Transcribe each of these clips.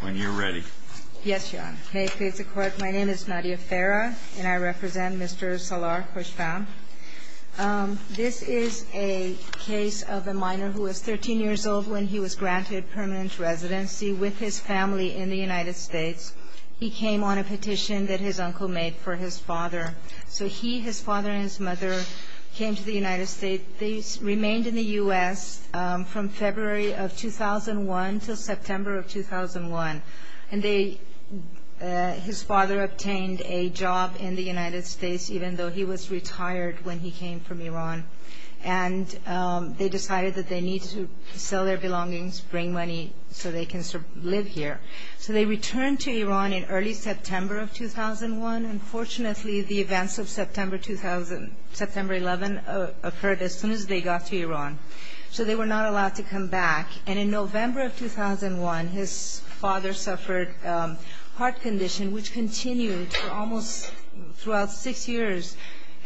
When you're ready. Yes, Your Honor. May it please the Court, my name is Nadia Farah and I represent Mr. Salar Khoshfahm. This is a case of a minor who was 13 years old when he was granted permanent residency with his family in the United States. He came on a petition that his uncle made for his father. So he, his father, and his mother came to the United States. They remained in the U.S. from February of 2001 until September of 2001. And they, his father obtained a job in the United States even though he was retired when he came from Iran. And they decided that they need to sell their belongings, bring money so they can live here. So they returned to Iran in early September of 2001. Unfortunately, the events of September 2011 occurred as soon as they got to Iran. So they were not allowed to come back. And in November of 2001, his father suffered a heart condition which continued for almost, throughout six years.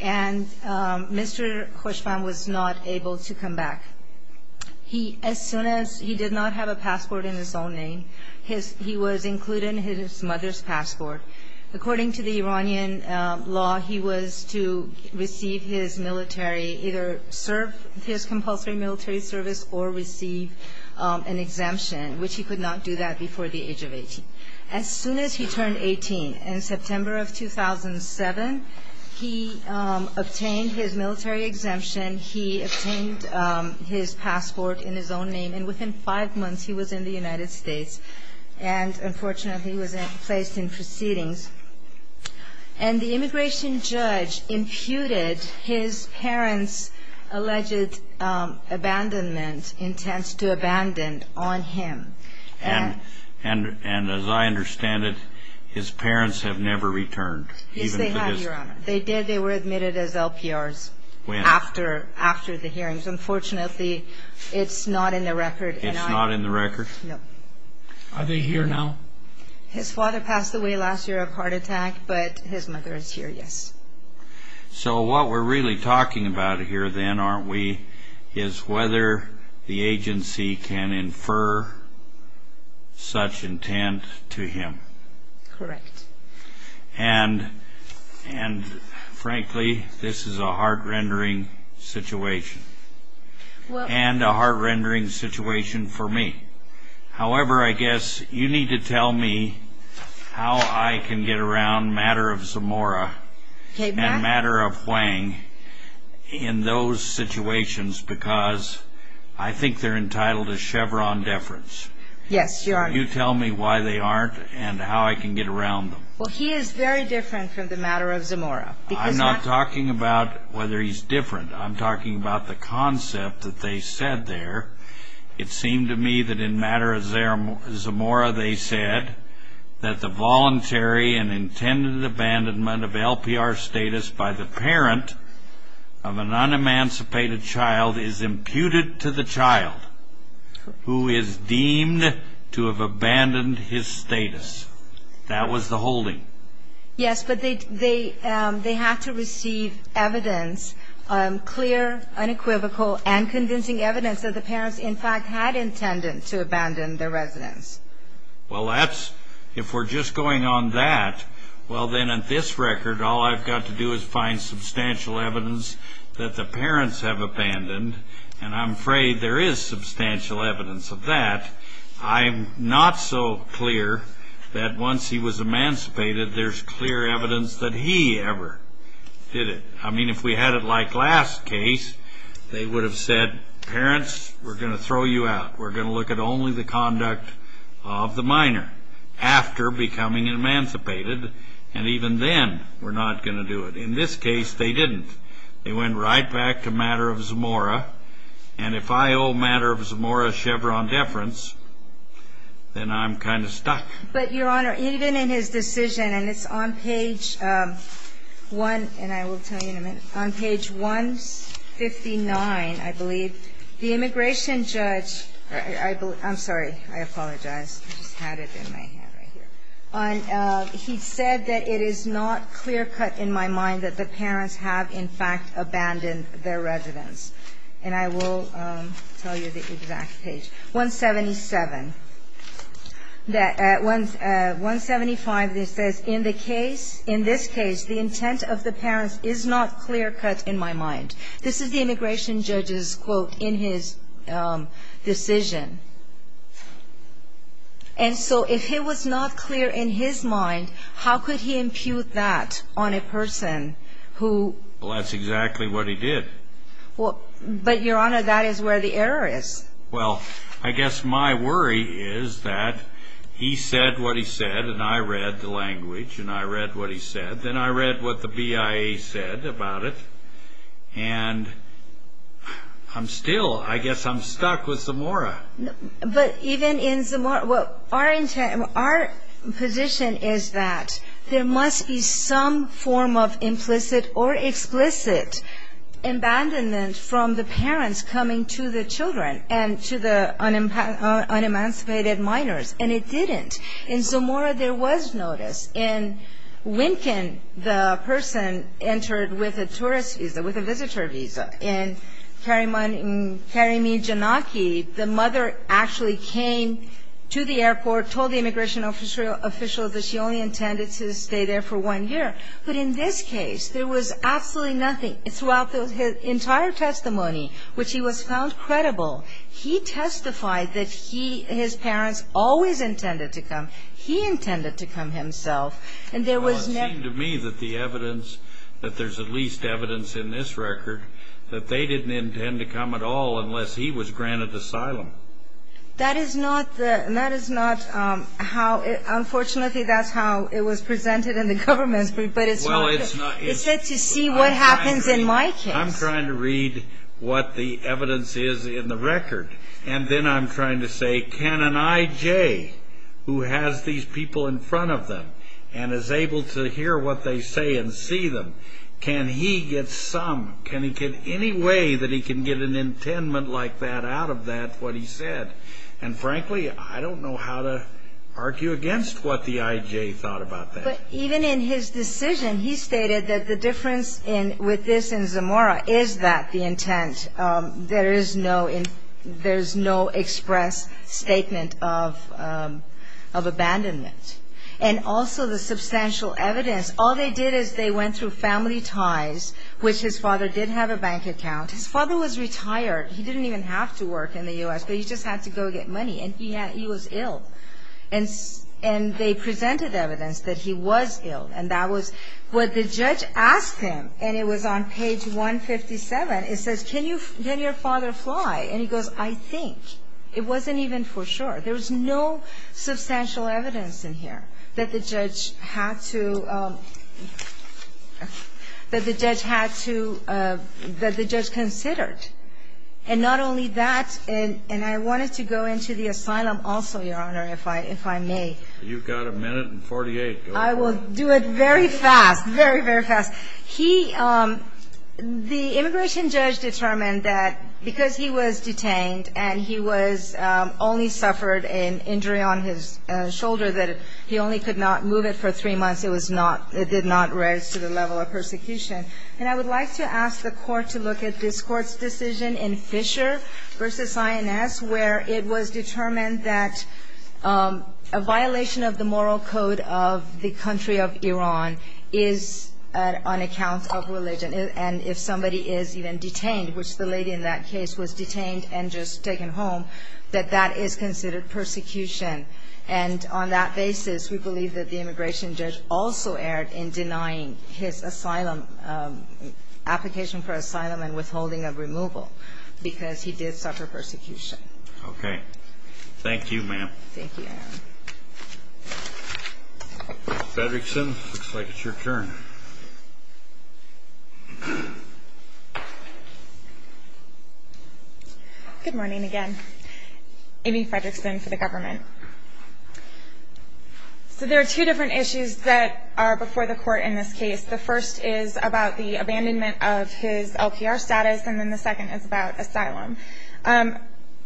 And Mr. Khoshfahm was not able to come back. He, as soon as he did not have a passport in his own name, he was included in his mother's passport. According to the Iranian law, he was to receive his military, either serve his compulsory military service or receive an exemption, which he could not do that before the age of 18. As soon as he turned 18 in September of 2007, he obtained his military exemption. He obtained his passport in his own name. And within five months, he was in the United States. And unfortunately, he was placed in proceedings. And the immigration judge imputed his parents' alleged abandonment, intent to abandon on him. And as I understand it, his parents have never returned. Yes, they have, Your Honor. They did. They were admitted as LPRs. When? After the hearings. Unfortunately, it's not in the record. It's not in the record? No. Are they here now? His father passed away last year of heart attack, but his mother is here, yes. So what we're really talking about here then, aren't we, is whether the agency can infer such intent to him. Correct. And frankly, this is a heart-rendering situation. And a heart-rendering situation for me. However, I guess you need to tell me how I can get around matter of Zamora and matter of Huang in those situations because I think they're entitled to Chevron deference. Yes, Your Honor. Can you tell me why they aren't and how I can get around them? Well, he is very different from the matter of Zamora. I'm not talking about whether he's different. I'm talking about the concept that they said there. It seemed to me that in matter of Zamora they said that the voluntary and intended abandonment of LPR status by the parent of an unemancipated child is imputed to the child who is deemed to have abandoned his status. That was the holding. Yes, but they had to receive evidence, clear, unequivocal, and convincing evidence that the parents, in fact, had intended to abandon their residence. Well, if we're just going on that, well then, at this record, all I've got to do is find substantial evidence that the parents have abandoned, and I'm afraid there is substantial evidence of that. In fact, I'm not so clear that once he was emancipated there's clear evidence that he ever did it. I mean, if we had it like last case, they would have said, parents, we're going to throw you out. We're going to look at only the conduct of the minor after becoming emancipated, and even then we're not going to do it. In this case, they didn't. They went right back to matter of Zamora, and if I owe matter of Zamora Chevron deference, then I'm kind of stuck. But, Your Honor, even in his decision, and it's on page 1, and I will tell you in a minute, on page 159, I believe, the immigration judge, I'm sorry, I apologize. I just had it in my hand right here. He said that it is not clear cut in my mind that the parents have, in fact, abandoned their residence. And I will tell you the exact page. 177. 175, it says, in the case, in this case, the intent of the parents is not clear cut in my mind. This is the immigration judge's quote in his decision. And so if it was not clear in his mind, how could he impute that on a person who ---- Well, that's exactly what he did. But, Your Honor, that is where the error is. Well, I guess my worry is that he said what he said, and I read the language, and I read what he said. Then I read what the BIA said about it, and I'm still, I guess I'm stuck with Zamora. But even in Zamora, our position is that there must be some form of implicit or explicit abandonment from the parents coming to the children and to the unemancipated minors. And it didn't. In Zamora, there was notice. In Wincken, the person entered with a tourist visa, with a visitor visa. In Karimi Janaki, the mother actually came to the airport, told the immigration official that she only intended to stay there for one year. But in this case, there was absolutely nothing. Throughout his entire testimony, which he was found credible, he testified that he, his parents always intended to come. He intended to come himself. And there was never ---- that they didn't intend to come at all unless he was granted asylum. That is not the, that is not how, unfortunately, that's how it was presented in the government. But it's not. Well, it's not. It's to see what happens in my case. I'm trying to read what the evidence is in the record. And then I'm trying to say, can an IJ who has these people in front of them and is able to hear what they say and see them, can he get some, can he get any way that he can get an intendment like that out of that, what he said? And frankly, I don't know how to argue against what the IJ thought about that. But even in his decision, he stated that the difference with this and Zamora is that the intent, there is no express statement of abandonment. And also the substantial evidence, all they did is they went through family ties, which his father did have a bank account. His father was retired. He didn't even have to work in the U.S., but he just had to go get money. And he was ill. And they presented evidence that he was ill. And that was what the judge asked him. And it was on page 157. It says, can your father fly? And he goes, I think. It wasn't even for sure. There was no substantial evidence in here that the judge had to, that the judge had to, that the judge considered. And not only that, and I wanted to go into the asylum also, Your Honor, if I may. You've got a minute and 48. I will do it very fast, very, very fast. He, the immigration judge determined that because he was detained and he was only suffered an injury on his shoulder that he only could not move it for three months, it was not, it did not raise to the level of persecution. And I would like to ask the Court to look at this Court's decision in Fisher v. INS, where it was determined that a violation of the moral code of the country of Iran is on account of religion. And if somebody is even detained, which the lady in that case was detained and just taken home, that that is considered persecution. And on that basis, we believe that the immigration judge also erred in denying his asylum, application for asylum and withholding of removal because he did suffer persecution. Okay. Thank you, ma'am. Thank you, Your Honor. Ms. Fredrickson, looks like it's your turn. Good morning again. Amy Fredrickson for the government. So there are two different issues that are before the Court in this case. The first is about the abandonment of his LPR status, and then the second is about asylum.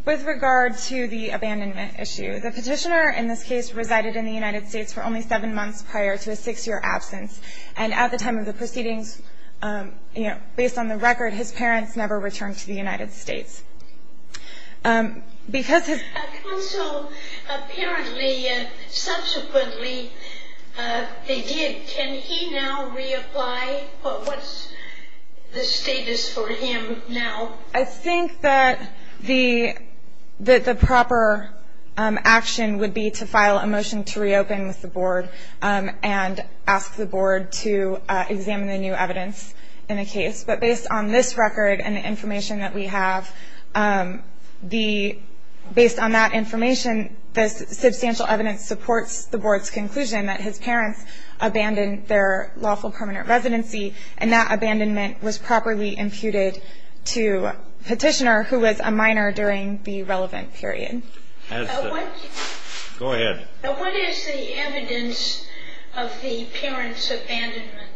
With regard to the abandonment issue, the petitioner in this case resided in the United States for only seven months prior to his six-year absence. And at the time of the proceedings, you know, based on the record, his parents never returned to the United States. Counsel, apparently, subsequently, they did. Can he now reapply? What's the status for him now? I think that the proper action would be to file a motion to reopen with the Board and ask the Board to examine the new evidence in the case. But based on this record and the information that we have, based on that information, the substantial evidence supports the Board's conclusion that his parents abandoned their lawful permanent residency, and that abandonment was properly imputed to a petitioner who was a minor during the relevant period. Go ahead. What is the evidence of the parents' abandonment?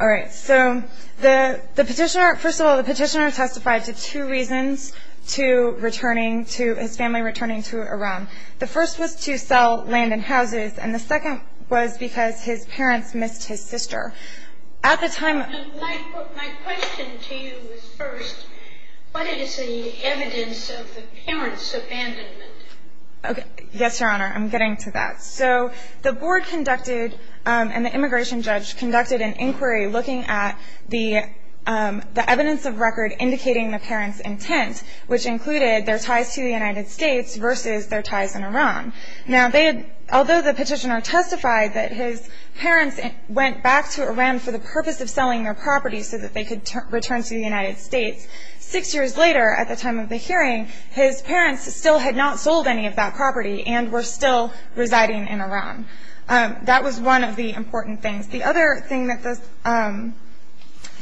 All right. So the petitioner – first of all, the petitioner testified to two reasons to returning to – his family returning to Iran. The first was to sell land and houses, and the second was because his parents missed his sister. At the time – My question to you is first, what is the evidence of the parents' abandonment? Okay. Yes, Your Honor, I'm getting to that. So the Board conducted – and the immigration judge conducted an inquiry looking at the evidence of record indicating the parents' intent, which included their ties to the United States versus their ties in Iran. Now, although the petitioner testified that his parents went back to Iran for the purpose of selling their property so that they could return to the United States, six years later at the time of the hearing, his parents still had not sold any of that property and were still residing in Iran. That was one of the important things. The other thing that the –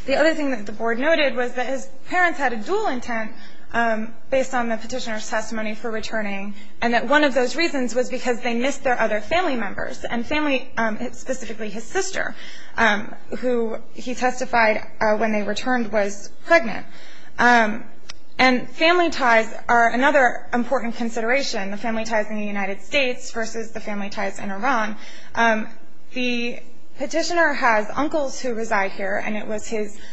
the other thing that the Board noted was that his parents had a dual intent based on the petitioner's testimony for returning, and that one of those reasons was because they missed their other family members, and family – specifically his sister, who he testified when they returned was pregnant. And family ties are another important consideration, the family ties in the United States versus the family ties in Iran. The petitioner has uncles who reside here, and it was his –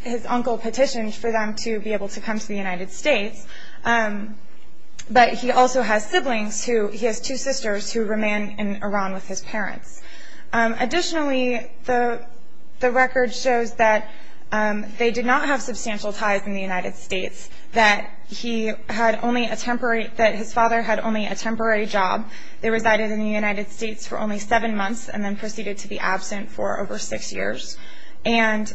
his uncle petitioned for them to be able to come to the United States, but he also has siblings who – he has two sisters who remain in Iran with his parents. Additionally, the – the record shows that they did not have substantial ties in the United States, that he had only a temporary – that his father had only a temporary job. They resided in the United States for only seven months and then proceeded to be absent for over six years. And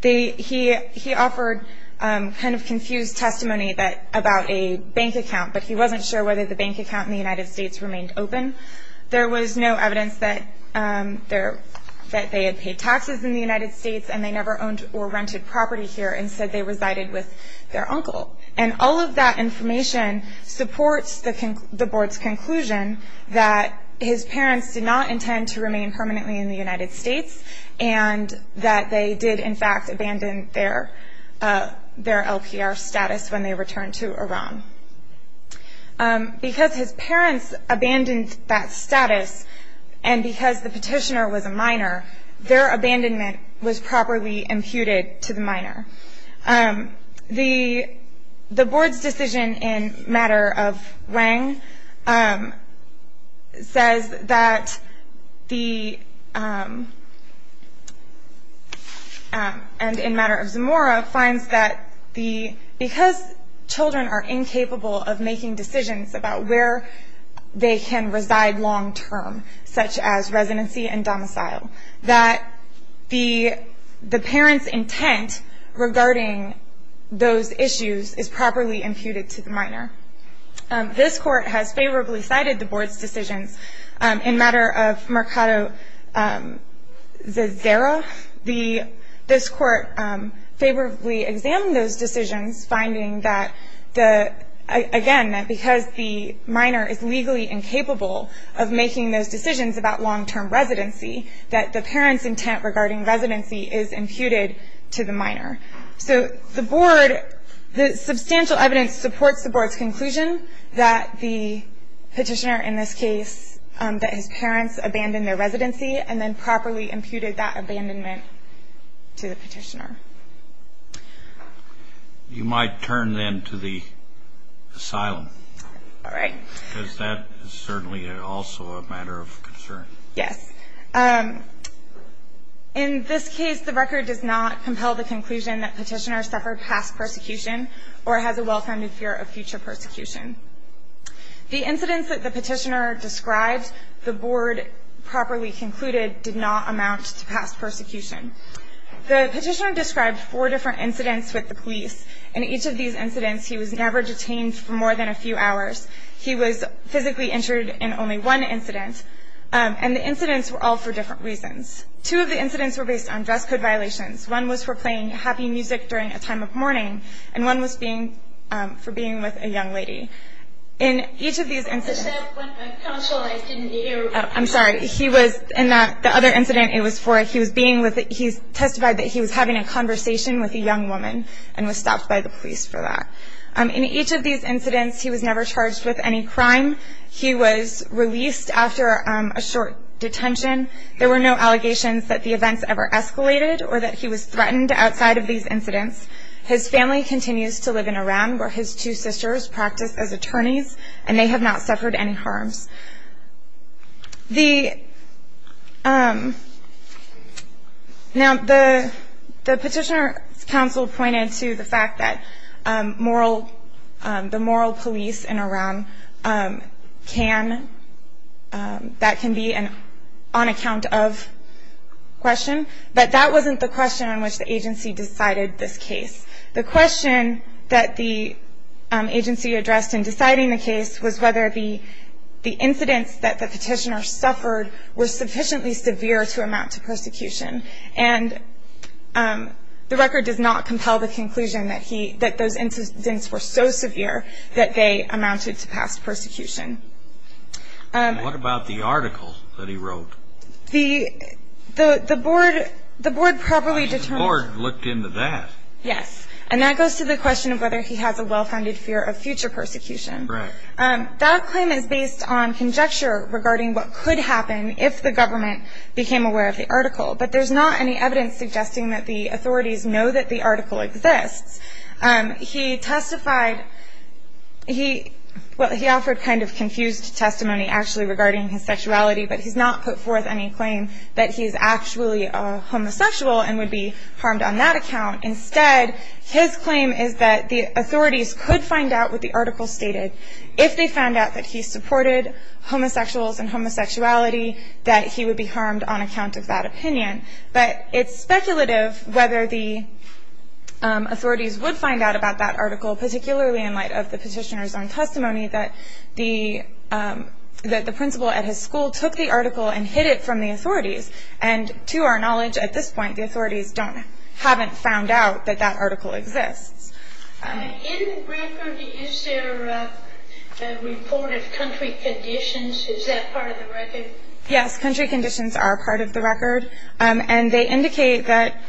they – he – he offered kind of confused testimony that – about a bank account, but he wasn't sure whether the bank account in the United States remained open. There was no evidence that there – that they had paid taxes in the United States and they never owned or rented property here and said they resided with their uncle. And all of that information supports the – the board's conclusion that his parents did not intend to remain permanently in the United States and that they did, in fact, abandon their – their LPR status when they returned to Iran. Because his parents abandoned that status and because the petitioner was a minor, their abandonment was properly imputed to the minor. The – the board's decision in matter of Wang says that the – and in matter of Zamora finds that the – because children are incapable of making decisions about where they can reside long term, such as residency and domicile, that the – the parents' intent regarding those issues is properly imputed to the minor. This court has favorably cited the board's decisions in matter of Mercado Zazera. The – this court favorably examined those decisions, finding that the – again, that because the minor is legally incapable of making those decisions about long-term residency, that the parents' intent regarding residency is imputed to the minor. So the board – the substantial evidence supports the board's conclusion that the petitioner, in this case, that his parents abandoned their residency and then properly imputed that abandonment to the petitioner. You might turn then to the asylum. All right. Because that is certainly also a matter of concern. Yes. In this case, the record does not compel the conclusion that petitioner suffered past persecution or has a well-founded fear of future persecution. The incidents that the petitioner described, the board properly concluded, did not amount to past persecution. The petitioner described four different incidents with the police. In each of these incidents, he was never detained for more than a few hours. He was physically injured in only one incident. And the incidents were all for different reasons. Two of the incidents were based on dress code violations. One was for playing happy music during a time of mourning, and one was being – for being with a young lady. In each of these incidents – I said when my counsel, I didn't hear. I'm sorry. In the other incident, he testified that he was having a conversation with a young woman and was stopped by the police for that. In each of these incidents, he was never charged with any crime. He was released after a short detention. There were no allegations that the events ever escalated or that he was threatened outside of these incidents. His family continues to live in Iran, where his two sisters practice as attorneys, and they have not suffered any harms. The – now, the petitioner's counsel pointed to the fact that moral – the moral police in Iran can – that can be an on-account-of question, but that wasn't the question on which the agency decided this case. The question that the agency addressed in deciding the case was whether the incidents that the petitioner suffered were sufficiently severe to amount to persecution, and the record does not compel the conclusion that he – that those incidents were so severe that they amounted to past persecution. What about the article that he wrote? The board – the board properly determined – The board looked into that. Yes, and that goes to the question of whether he has a well-founded fear of future persecution. Correct. That claim is based on conjecture regarding what could happen if the government became aware of the article, but there's not any evidence suggesting that the authorities know that the article exists. He testified – he – well, he offered kind of confused testimony actually regarding his sexuality, but he's not put forth any claim that he's actually a homosexual and would be harmed on that account. Instead, his claim is that the authorities could find out what the article stated if they found out that he supported homosexuals and homosexuality, that he would be harmed on account of that opinion. But it's speculative whether the authorities would find out about that article, particularly in light of the petitioner's own testimony that the – that the principal at his school took the article and hid it from the authorities, and to our knowledge, at this point, the authorities don't – haven't found out that that article exists. In the record, is there a report of country conditions? Is that part of the record? Yes, country conditions are part of the record, and they indicate that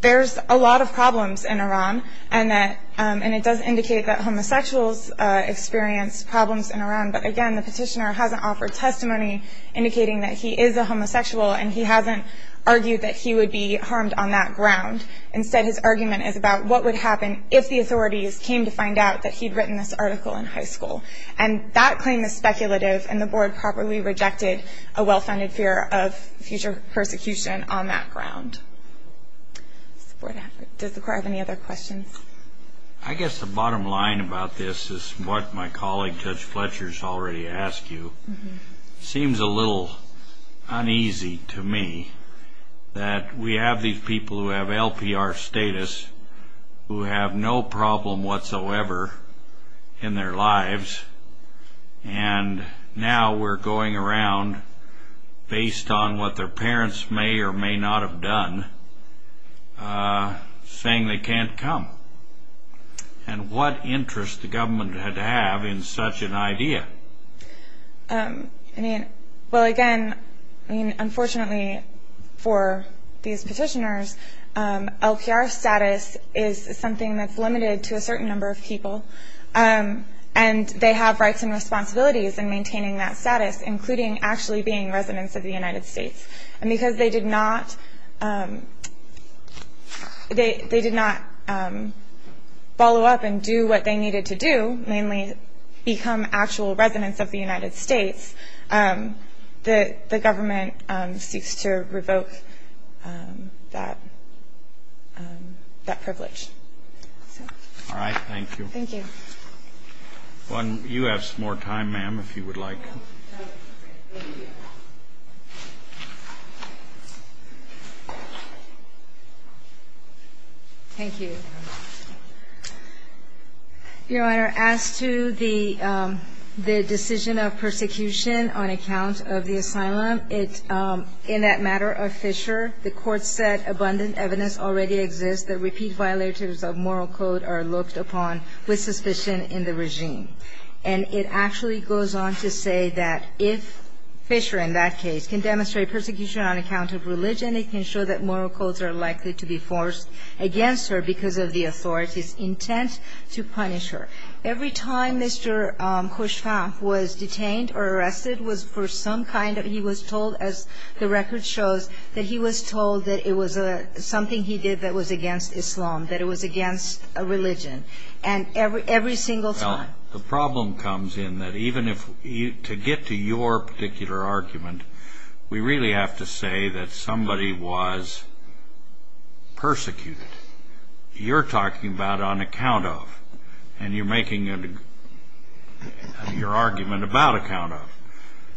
there's a lot of problems in Iran, and that – and it does indicate that homosexuals experience problems in Iran, but again, the petitioner hasn't offered testimony indicating that he is a homosexual, and he hasn't argued that he would be harmed on that ground. Instead, his argument is about what would happen if the authorities came to find out that he'd written this article in high school. And that claim is speculative, and the Board properly rejected a well-founded fear of future persecution on that ground. Does the Court have any other questions? I guess the bottom line about this is what my colleague Judge Fletcher's already asked you. It seems a little uneasy to me that we have these people who have LPR status who have no problem whatsoever in their lives, and now we're going around based on what their parents may or may not have done, saying they can't come. And what interest the government had to have in such an idea? I mean, well, again, I mean, unfortunately for these petitioners, LPR status is something that's limited to a certain number of people, and they have rights and responsibilities in maintaining that status, including actually being residents of the United States. And because they did not follow up and do what they needed to do, mainly become actual residents of the United States, the government seeks to revoke that privilege. All right. Thank you. Thank you. You have some more time, ma'am, if you would like. Thank you. Thank you. Your Honor, as to the decision of persecution on account of the asylum, in that matter of Fisher, the court said abundant evidence already exists that repeat violators of moral code are looked upon with suspicion in the regime. And it actually goes on to say that if Fisher in that case can demonstrate persecution on account of religion, it can show that moral codes are likely to be forced against her because of the authorities' intent to punish her. Every time Mr. Khushfa was detained or arrested was for some kind of he was told, as the record shows, that he was told that it was something he did that was against Islam, that it was against a religion. And every single time. The problem comes in that even if to get to your particular argument, we really have to say that somebody was persecuted. You're talking about on account of, and you're making your argument about account of.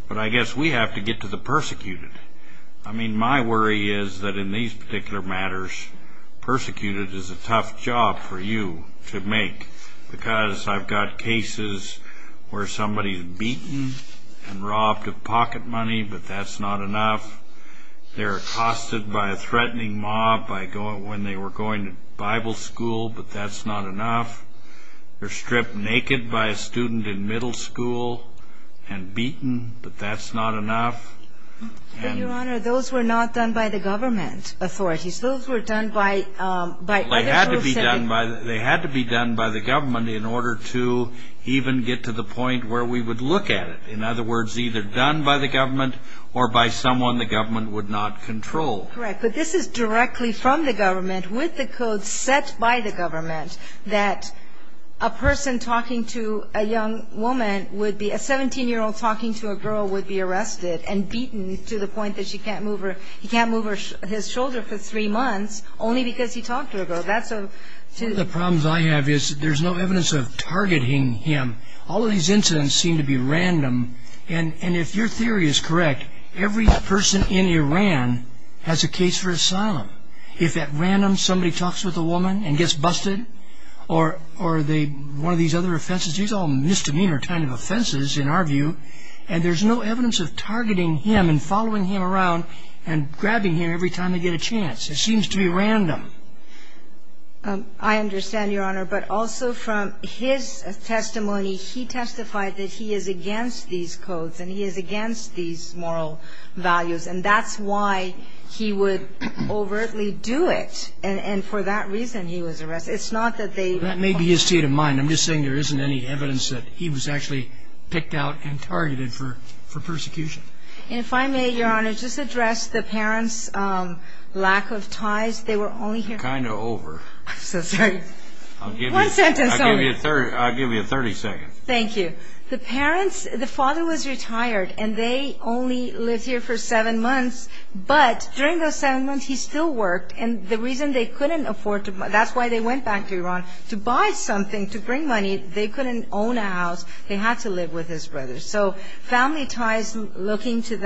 But I guess we have to get to the persecuted. I mean, my worry is that in these particular matters, persecuted is a tough job for you to make. Because I've got cases where somebody's beaten and robbed of pocket money, but that's not enough. They're accosted by a threatening mob when they were going to Bible school, but that's not enough. They're stripped naked by a student in middle school and beaten, but that's not enough. But, Your Honor, those were not done by the government authorities. Those were done by other groups. They had to be done by the government in order to even get to the point where we would look at it. In other words, either done by the government or by someone the government would not control. Correct. But this is directly from the government, with the code set by the government, that a person talking to a young woman would be, a 17-year-old talking to a girl would be arrested and beaten to the point that she can't move her, his shoulder for three months only because he talked to a girl. That's a... One of the problems I have is there's no evidence of targeting him. All of these incidents seem to be random. And if your theory is correct, every person in Iran has a case for asylum. If at random somebody talks with a woman and gets busted, or one of these other offenses, these are all misdemeanor kind of offenses in our view, and there's no evidence of targeting him and following him around and grabbing him every time they get a chance. It seems to be random. I understand, Your Honor, but also from his testimony, he testified that he is against these codes and he is against these moral values, and that's why he would overtly do it. And for that reason he was arrested. It's not that they... That may be his state of mind. I'm just saying there isn't any evidence that he was actually picked out and targeted for persecution. And if I may, Your Honor, just address the parents' lack of ties. They were only here... Kind of over. I'm so sorry. One sentence only. I'll give you 30 seconds. Thank you. The parents, the father was retired, and they only lived here for seven months, but during those seven months he still worked. And the reason they couldn't afford to... They couldn't bring money. They couldn't own a house. They had to live with his brothers. So family ties, looking to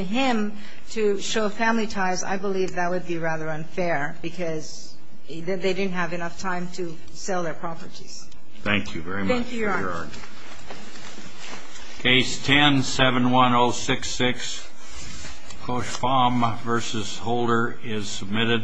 him to show family ties, I believe that would be rather unfair because they didn't have enough time to sell their properties. Thank you very much, Your Honor. Thank you, Your Honor. Case 10-71066, Koshbaum v. Holder, is submitted.